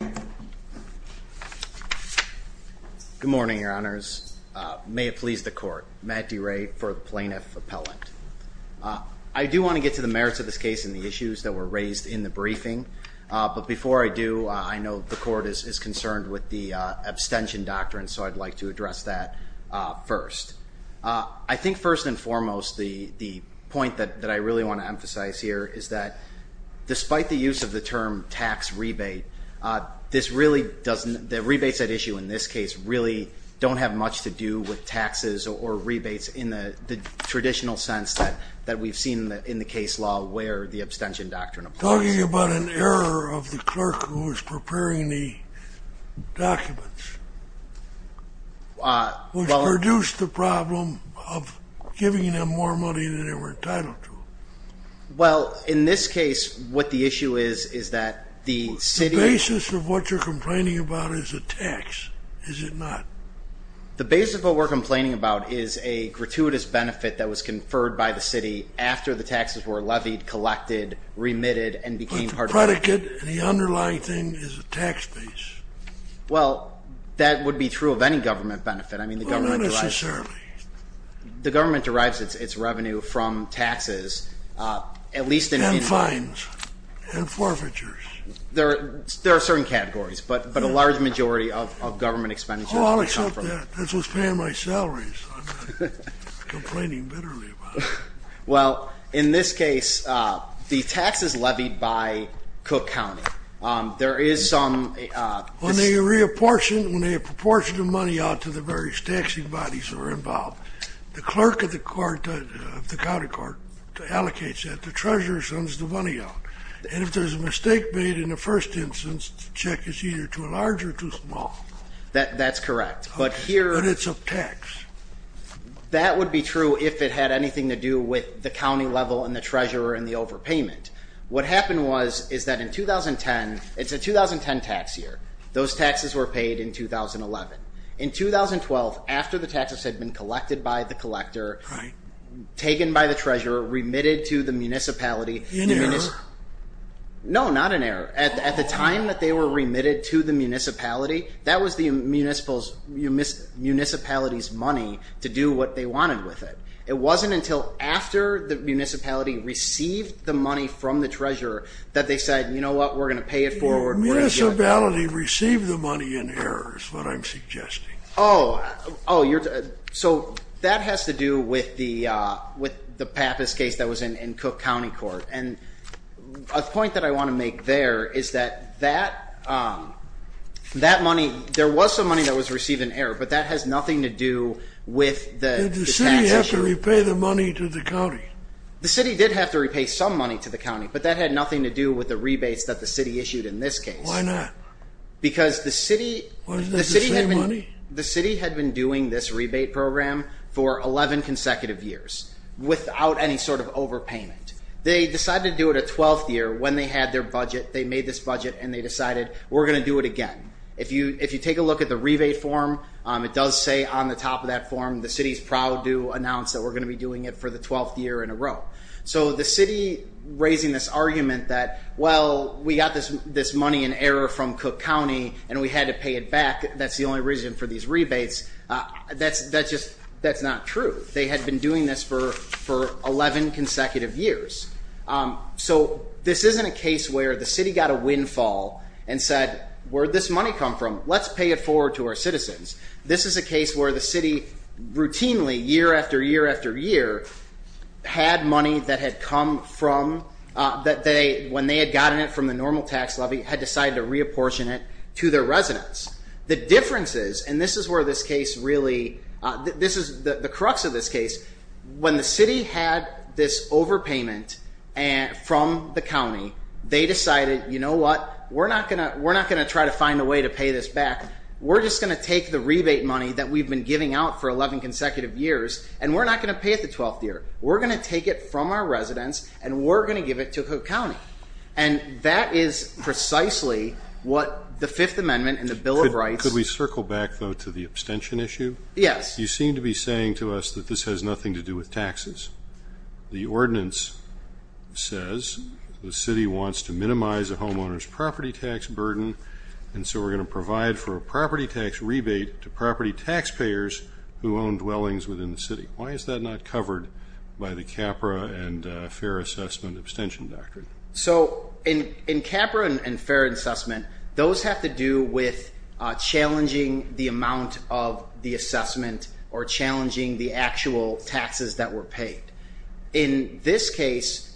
Good morning, Your Honors. May it please the Court, Matt DeRay for the Plaintiff Appellant. I do want to get to the merits of this case and the issues that were raised in the briefing, but before I do, I know the Court is concerned with the abstention doctrine, so I'd like to address that first. I think first and foremost, the point that I really want to emphasize here is that despite the use of the term tax rebate, the rebates at issue in this case really don't have much to do with taxes or rebates in the traditional sense that we've seen in the case law where the abstention doctrine applies. Talking about an error of the clerk who was preparing the documents, which produced the problem of giving them more money than they were entitled to. Well, in this case, what the issue is, is that the city... The basis of what you're complaining about is a tax, is it not? The basis of what we're complaining about is a gratuitous benefit that was conferred by the city after the taxes were levied, collected, remitted, and became part of... But the predicate and the underlying thing is a tax base. Well, that would be true of any government benefit. Well, not necessarily. The government derives its revenue from taxes, at least in... And fines, and forfeitures. There are certain categories, but a large majority of government expenditures... Oh, I'll accept that. This was paying my salaries. I'm not complaining bitterly about it. Well, in this case, the taxes levied by Cook County, there is some... When they apportion the money out to the various taxing bodies that are involved, the clerk of the county court allocates that. The treasurer sends the money out. And if there's a mistake made in the first instance, the check is either too large or too small. That's correct, but here... But it's a tax. That would be true if it had anything to do with the county level and the treasurer and the overpayment. What happened was, is that in 2010, it's a 2010 tax year. Those taxes were paid in 2011. In 2012, after the taxes had been collected by the collector, taken by the treasurer, remitted to the municipality... An error? No, not an error. At the time that they were remitted to the municipality, that was the municipality's money to do what they wanted with it. It wasn't until after the municipality received the money from the treasurer that they said, you know what, we're going to pay it forward. The municipality received the money in error is what I'm suggesting. Oh, so that has to do with the Pappas case that was in Cook County Court. And a point that I want to make there is that that money... There was some money that was received in error, but that has nothing to do with the taxation. Did the city have to repay the money to the county? The city did have to repay some money to the county, but that had nothing to do with the rebates that the city issued in this case. Why not? Because the city... Wasn't it the same money? The city had been doing this rebate program for 11 consecutive years without any sort of overpayment. They decided to do it a 12th year when they had their budget. They made this budget and they decided, we're going to do it again. If you take a look at the rebate form, it does say on the top of that form, the city is proud to announce that we're going to be doing it for the 12th year in a row. So the city raising this argument that, well, we got this money in error from Cook County and we had to pay it back. That's the only reason for these rebates. That's not true. They had been doing this for 11 consecutive years. So this isn't a case where the city got a windfall and said, where'd this money come from? Let's pay it forward to our citizens. This is a case where the city routinely, year after year after year, had money that had come from... When they had gotten it from the normal tax levy, had decided to reapportion it to their residents. The difference is, and this is where this case really... This is the crux of this case. When the city had this overpayment from the county, they decided, you know what? We're not going to try to find a way to pay this back. We're just going to take the rebate money that we've been giving out for 11 consecutive years, and we're not going to pay it the 12th year. We're going to take it from our residents and we're going to give it to Cook County. And that is precisely what the Fifth Amendment and the Bill of Rights... Could we circle back, though, to the abstention issue? Yes. You seem to be saying to us that this has nothing to do with taxes. The ordinance says the city wants to minimize a homeowner's property tax burden, and so we're going to provide for a property tax rebate to property taxpayers who own dwellings within the city. Why is that not covered by the CAPRA and FAIR assessment abstention doctrine? So in CAPRA and FAIR assessment, those have to do with challenging the amount of the assessment or challenging the actual taxes that were paid. In this case,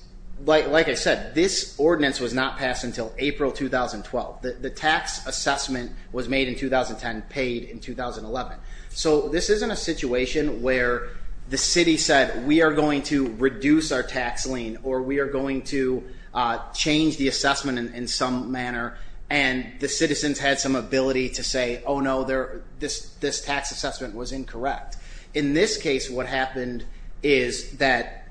like I said, this ordinance was not passed until April 2012. The tax assessment was made in 2010, paid in 2011. So this isn't a situation where the city said, we are going to reduce our tax lien or we are going to change the assessment in some manner, and the citizens had some ability to say, oh, no, this tax assessment was incorrect. In this case, what happened is that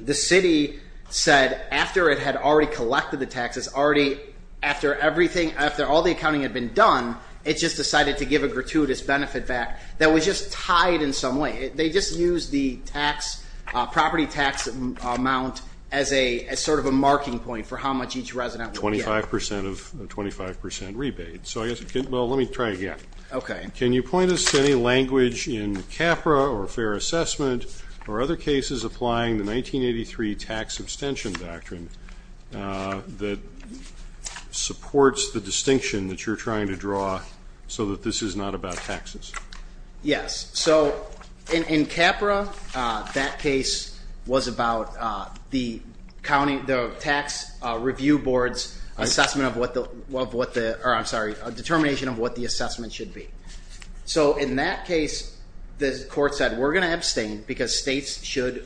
the city said after it had already collected the taxes, already after everything, after all the accounting had been done, it just decided to give a gratuitous benefit back that was just tied in some way. They just used the property tax amount as sort of a marking point for how much each resident would get. Twenty-five percent rebate. Well, let me try again. Can you point us to any language in CAPRA or FAIR assessment or other cases applying the 1983 tax abstention doctrine that supports the distinction that you're trying to draw so that this is not about taxes? Yes. So in CAPRA, that case was about the tax review board's determination of what the assessment should be. So in that case, the court said, we're going to abstain because states should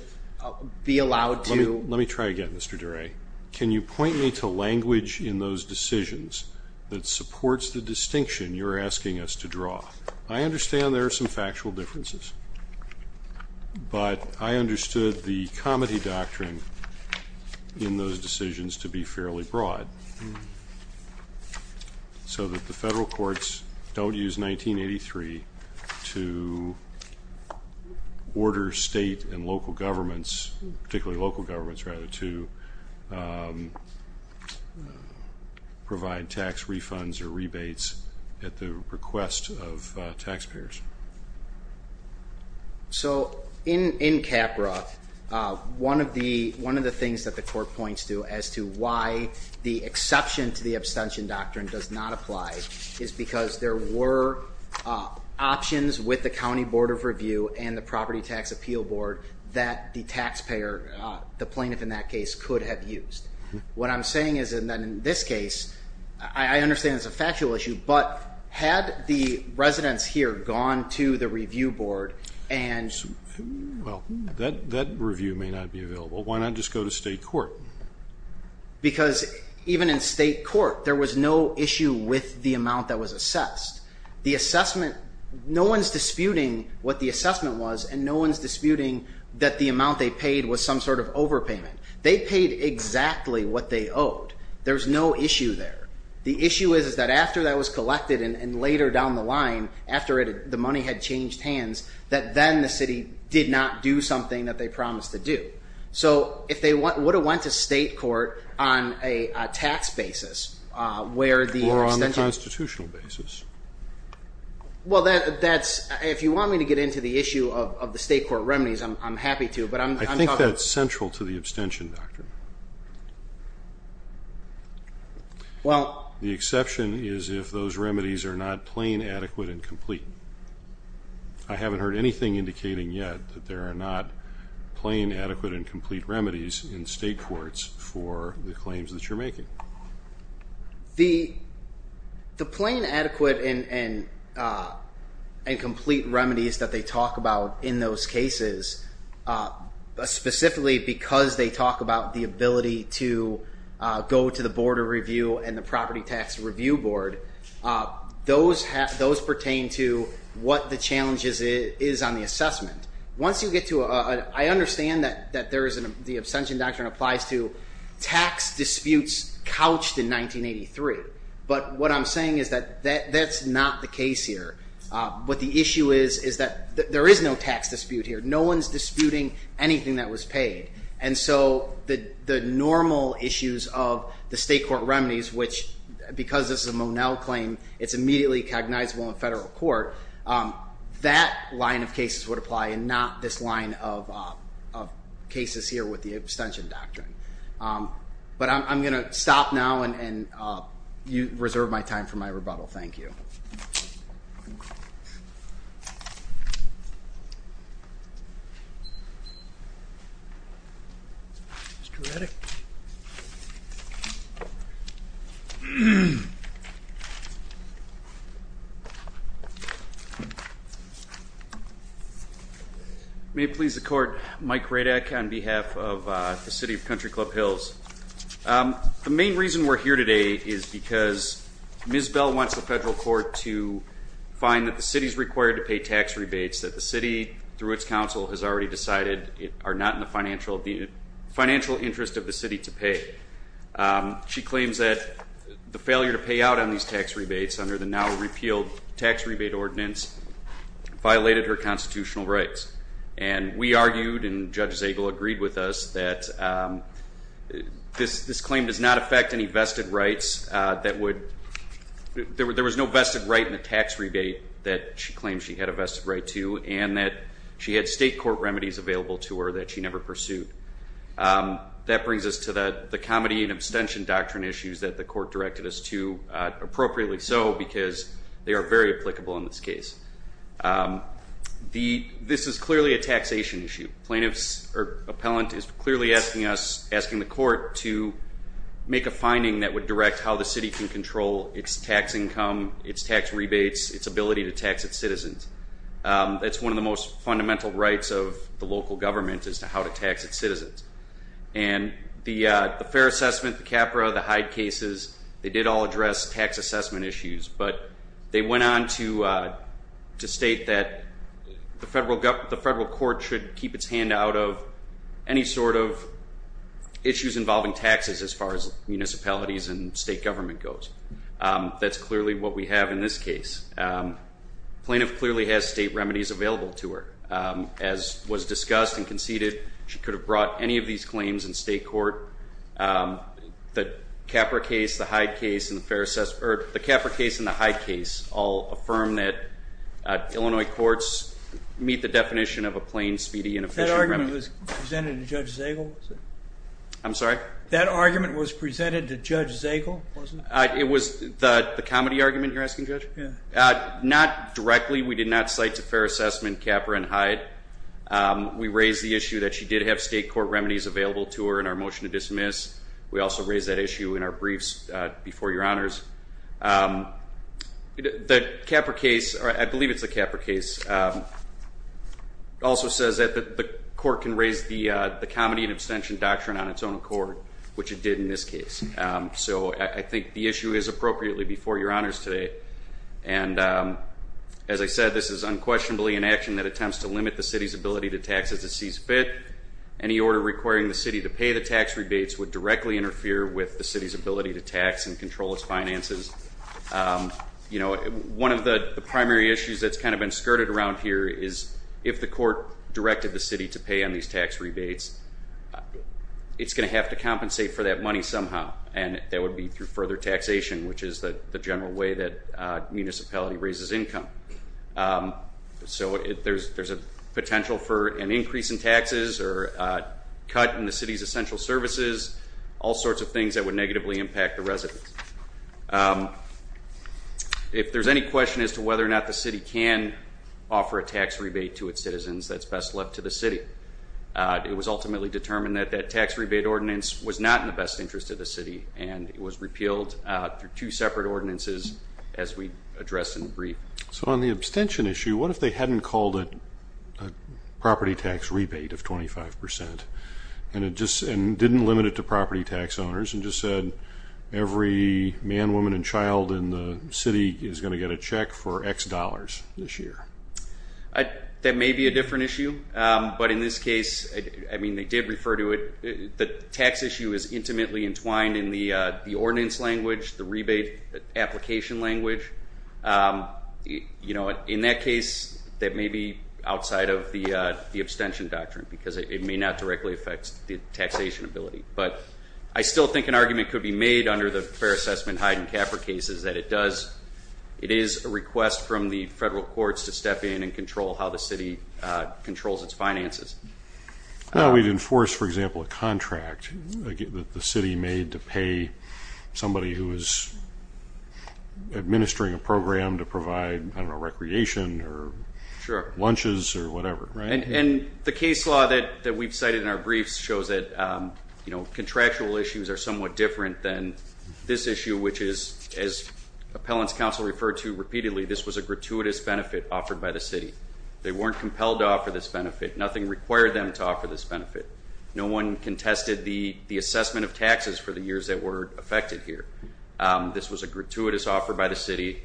be allowed to. Let me try again, Mr. Duray. Can you point me to language in those decisions that supports the distinction you're asking us to draw? I understand there are some factual differences, but I understood the comity doctrine in those decisions to be fairly broad so that the federal courts don't use 1983 to order state and local governments, particularly local governments, rather, to provide tax refunds or rebates at the request of taxpayers. So in CAPRA, one of the things that the court points to as to why the exception to the abstention doctrine does not apply is because there were options with the county board of review and the property tax appeal board that the taxpayer, the plaintiff in that case, could have used. What I'm saying is that in this case, I understand it's a factual issue, but had the residents here gone to the review board and... Well, that review may not be available. Why not just go to state court? Because even in state court, there was no issue with the amount that was assessed. The assessment... No one's disputing what the assessment was, and no one's disputing that the amount they paid was some sort of overpayment. They paid exactly what they owed. There's no issue there. The issue is that after that was collected and later down the line, after the money had changed hands, that then the city did not do something that they promised to do. So if they would have went to state court on a tax basis where the... Or on the constitutional basis. Well, that's... If you want me to get into the issue of the state court remedies, I'm happy to, but I'm... I think that's central to the abstention doctrine. Well... The exception is if those remedies are not plain, adequate, and complete. I haven't heard anything indicating yet that there are not plain, adequate, and complete remedies in state courts for the claims that you're making. The plain, adequate, and complete remedies that they talk about in those cases, specifically because they talk about the ability to go to the Board of Review and the Property Tax Review Board, those pertain to what the challenge is on the assessment. Once you get to a... I understand that the abstention doctrine applies to tax disputes couched in 1983. But what I'm saying is that that's not the case here. What the issue is is that there is no tax dispute here. No one's disputing anything that was paid. And so the normal issues of the state court remedies, which because this is a Monell claim, it's immediately cognizable in federal court, that line of cases would apply and not this line of cases here with the abstention doctrine. But I'm going to stop now and reserve my time for my rebuttal. Thank you. Mr. Reddick. Thank you. May it please the court, Mike Reddick on behalf of the city of Country Club Hills. The main reason we're here today is because Ms. Bell wants the federal court to find that the city is required to pay tax rebates that the city, through its council, has already decided are not in the financial interest of the city to pay. She claims that the failure to pay out on these tax rebates under the now repealed tax rebate ordinance violated her constitutional rights. And we argued, and Judge Zagel agreed with us, that this claim does not affect any vested rights that would, there was no vested right in the tax rebate that she claimed she had a vested right to and that she had state court remedies available to her that she never pursued. That brings us to the comedy and abstention doctrine issues that the court directed us to, appropriately so because they are very applicable in this case. This is clearly a taxation issue. Plaintiffs or appellant is clearly asking us, asking the court, to make a finding that would direct how the city can control its tax income, its tax rebates, its ability to tax its citizens. It's one of the most fundamental rights of the local government as to how to tax its citizens. And the fair assessment, the CAPRA, the Hyde cases, they did all address tax assessment issues, but they went on to state that the federal court should keep its hand out of any sort of issues involving taxes as far as municipalities and state government goes. That's clearly what we have in this case. Plaintiff clearly has state remedies available to her. As was discussed and conceded, she could have brought any of these claims in state court. The CAPRA case, the Hyde case, and the fair assessment, or the CAPRA case and the Hyde case, all affirm that Illinois courts meet the definition of a plain, speedy, and efficient remedy. That argument was presented to Judge Zagel? I'm sorry? That argument was presented to Judge Zagel, wasn't it? It was the comedy argument you're asking, Judge? Not directly. We did not cite to fair assessment CAPRA and Hyde. We raised the issue that she did have state court remedies available to her in our motion to dismiss. We also raised that issue in our briefs before Your Honors. The CAPRA case, or I believe it's the CAPRA case, also says that the court can raise the comedy and abstention doctrine on its own accord, which it did in this case. So I think the issue is appropriately before Your Honors today. And as I said, this is unquestionably an action that attempts to limit the city's ability to tax as it sees fit. Any order requiring the city to pay the tax rebates would directly interfere with the city's ability to tax and control its finances. One of the primary issues that's kind of been skirted around here is if the court directed the city to pay on these tax rebates, it's going to have to compensate for that money somehow, and that would be through further taxation, which is the general way that municipality raises income. So there's a potential for an increase in taxes or a cut in the city's essential services, all sorts of things that would negatively impact the residents. If there's any question as to whether or not the city can offer a tax rebate to its citizens, that's best left to the city. It was ultimately determined that that tax rebate ordinance was not in the best interest of the city, and it was repealed through two separate ordinances as we addressed in the brief. So on the abstention issue, what if they hadn't called it a property tax rebate of 25% and didn't limit it to property tax owners and just said every man, woman, and child in the city is going to get a check for X dollars this year? That may be a different issue, but in this case, I mean, they did refer to it. The tax issue is intimately entwined in the ordinance language, the rebate application language. In that case, that may be outside of the abstention doctrine because it may not directly affect the taxation ability. But I still think an argument could be made under the Fair Assessment Hyde and Kaffir cases that it is a request from the federal courts to step in and control how the city controls its finances. Well, we'd enforce, for example, a contract that the city made to pay somebody who is administering a program to provide, I don't know, recreation or lunches or whatever, right? And the case law that we've cited in our briefs shows that, you know, contractual issues are somewhat different than this issue, which is, as Appellants Council referred to repeatedly, this was a gratuitous benefit offered by the city. They weren't compelled to offer this benefit. Nothing required them to offer this benefit. No one contested the assessment of taxes for the years that were affected here. This was a gratuitous offer by the city,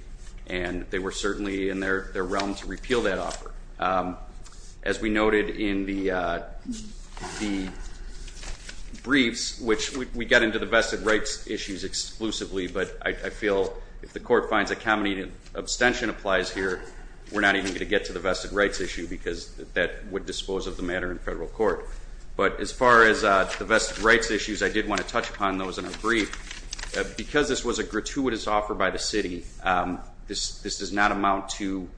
and they were certainly in their realm to repeal that offer. As we noted in the briefs, which we got into the vested rights issues exclusively, but I feel if the court finds a common abstention applies here, we're not even going to get to the vested rights issue because that would dispose of the matter in federal court. But as far as the vested rights issues, I did want to touch upon those in our brief. Because this was a gratuitous offer by the city, this does not amount to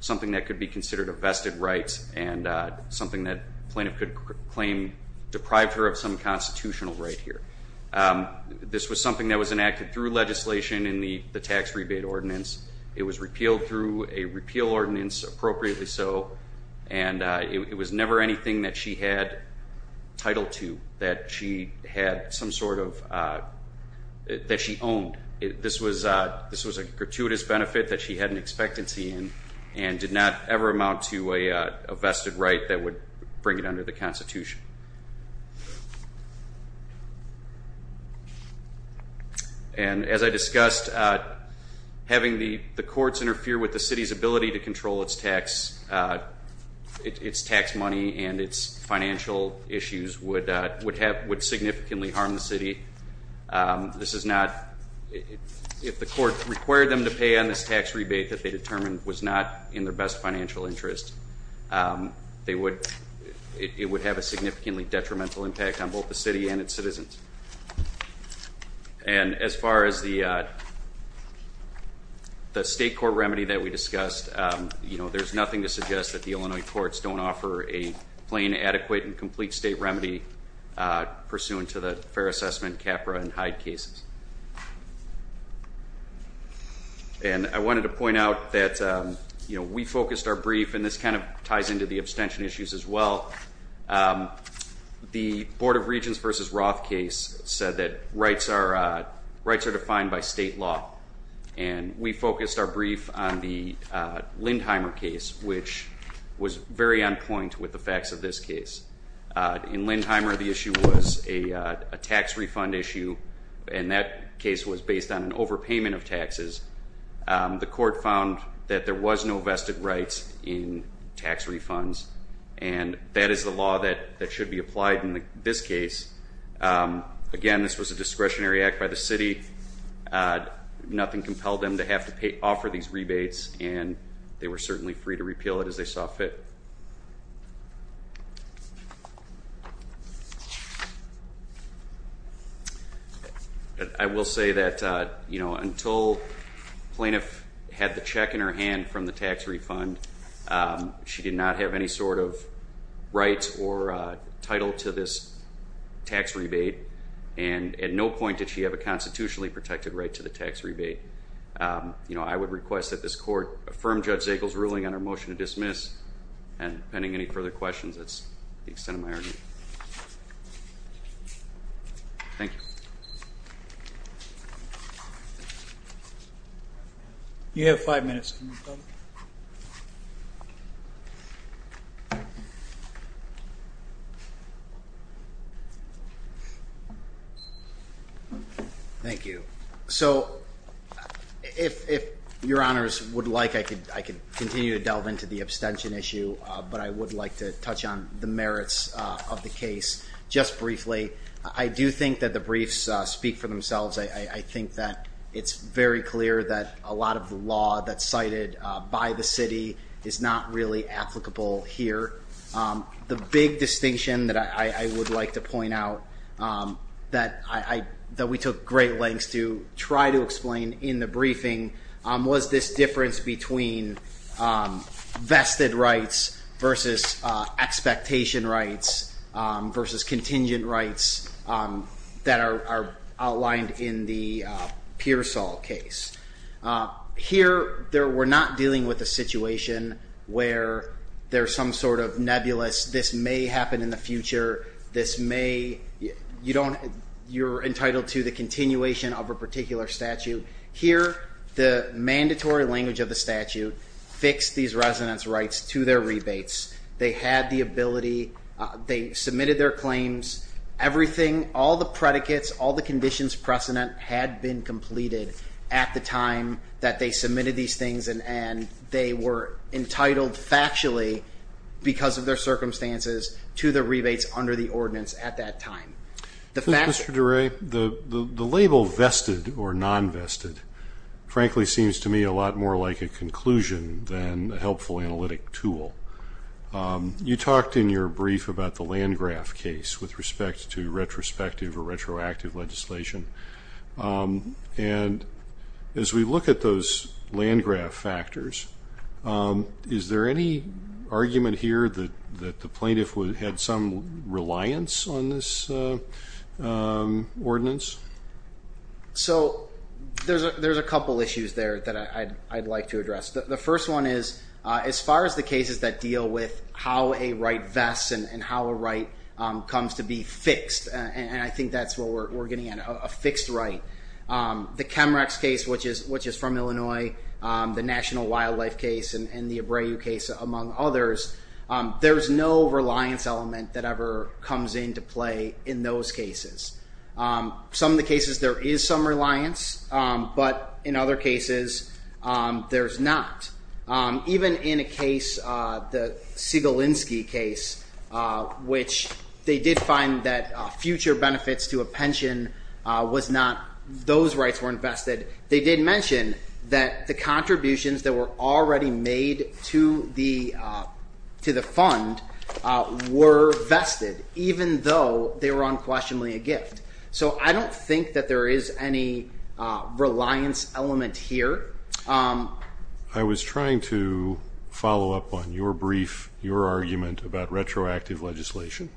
something that could be considered a vested right and something that a plaintiff could claim deprived her of some constitutional right here. This was something that was enacted through legislation in the tax rebate ordinance. It was repealed through a repeal ordinance, appropriately so, and it was never anything that she had title to, that she owned. This was a gratuitous benefit that she had an expectancy in and did not ever amount to a vested right that would bring it under the Constitution. And as I discussed, having the courts interfere with the city's ability to control its tax money and its financial issues would significantly harm the city. If the court required them to pay on this tax rebate that they determined was not in their best financial interest, it would have a significantly detrimental impact on both the city and its citizens. And as far as the state court remedy that we discussed, there's nothing to suggest that the Illinois courts don't offer a plain, adequate, and complete state remedy pursuant to the Fair Assessment, CAPRA, and Hyde cases. And I wanted to point out that we focused our brief, and this kind of ties into the abstention issues as well, the Board of Regents v. Roth case said that rights are defined by state law. And we focused our brief on the Lindheimer case, which was very on point with the facts of this case. In Lindheimer, the issue was a tax refund issue, and that case was based on an overpayment of taxes. The court found that there was no vested rights in tax refunds, and that is the law that should be applied in this case. Again, this was a discretionary act by the city. Nothing compelled them to have to offer these rebates, and they were certainly free to repeal it as they saw fit. I will say that, you know, until Plaintiff had the check in her hand from the tax refund, she did not have any sort of rights or title to this tax rebate, and at no point did she have a constitutionally protected right to the tax rebate. You know, I would request that this court affirm Judge Zegel's ruling on her motion to dismiss, and pending any further questions, that's the extent of my argument. Thank you. You have five minutes. Thank you. So if your honors would like, I could continue to delve into the abstention issue, but I would like to touch on the merits of the case just briefly. I do think that the briefs speak for themselves. I think that it's very clear that a lot of the law that's cited by the city is not really applicable here. The big distinction that I would like to point out that we took great lengths to try to explain in the briefing was this difference between vested rights versus expectation rights versus contingent rights that are outlined in the Pearsall case. Here, we're not dealing with a situation where there's some sort of nebulous, this may happen in the future, you're entitled to the continuation of a particular statute. Here, the mandatory language of the statute fixed these residents' rights to their rebates. They had the ability, they submitted their claims, everything, all the predicates, all the conditions precedent had been completed at the time that they submitted these things and they were entitled factually because of their circumstances to the rebates under the ordinance at that time. Mr. DeRay, the label vested or non-vested frankly seems to me a lot more like a conclusion than a helpful analytic tool. You talked in your brief about the Landgraf case with respect to retrospective or retroactive legislation. As we look at those Landgraf factors, is there any argument here that the plaintiff had some reliance on this ordinance? There's a couple issues there that I'd like to address. The first one is, as far as the cases that deal with how a right vests and how a right comes to be fixed, and I think that's what we're getting at, a fixed right. The Chemrex case, which is from Illinois, the National Wildlife case and the Abreu case among others, there's no reliance element that ever comes into play in those cases. Some of the cases there is some reliance, but in other cases there's not. Even in a case, the Siegelinsky case, which they did find that future benefits to a pension, those rights weren't vested. They did mention that the contributions that were already made to the fund were vested, even though they were unquestionably a gift. So I don't think that there is any reliance element here. I was trying to follow up on your brief, your argument about retroactive legislation.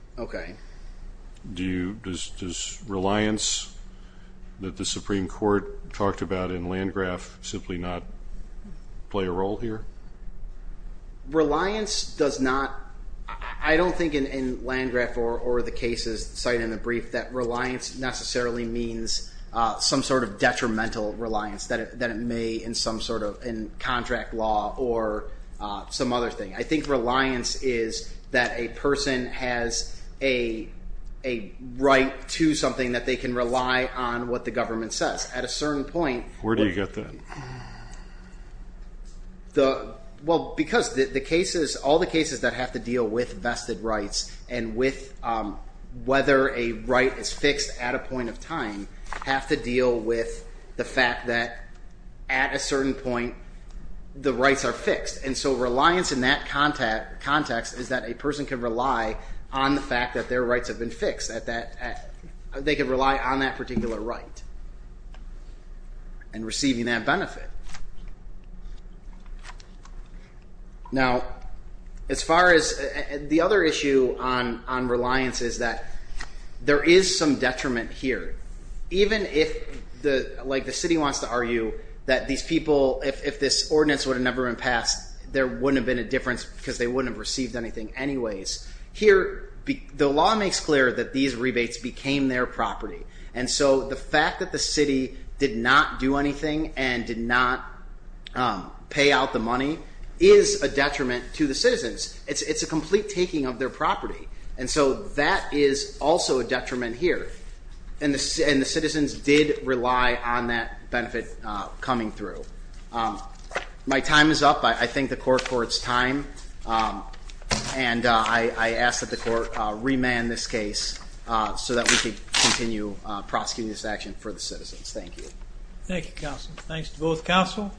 Does reliance that the Supreme Court talked about in Landgraf simply not play a role here? Reliance does not, I don't think in Landgraf or the cases cited in the brief, that reliance necessarily means some sort of detrimental reliance that it may in some sort of contract law or some other thing. I think reliance is that a person has a right to something that they can rely on what the government says. At a certain point... Where do you get that? Well, because all the cases that have to deal with vested rights and with whether a right is fixed at a point of time have to deal with the fact that at a certain point the rights are fixed. And so reliance in that context is that a person can rely on the fact that their rights have been fixed. They can rely on that particular right and receiving that benefit. The other issue on reliance is that there is some detriment here. Even if the city wants to argue that these people, if this ordinance would have never been passed, there wouldn't have been a difference because they wouldn't have received anything anyways. Here, the law makes clear that these rebates became their property. And so the fact that the city did not do anything and did not pay out the money is a detriment to the citizens. It's a complete taking of their property. And so that is also a detriment here. And the citizens did rely on that benefit coming through. My time is up. I thank the court for its time. And I ask that the court remand this case so that we can continue prosecuting this action for the citizens. Thank you. Thank you, counsel. Thanks to both counsel.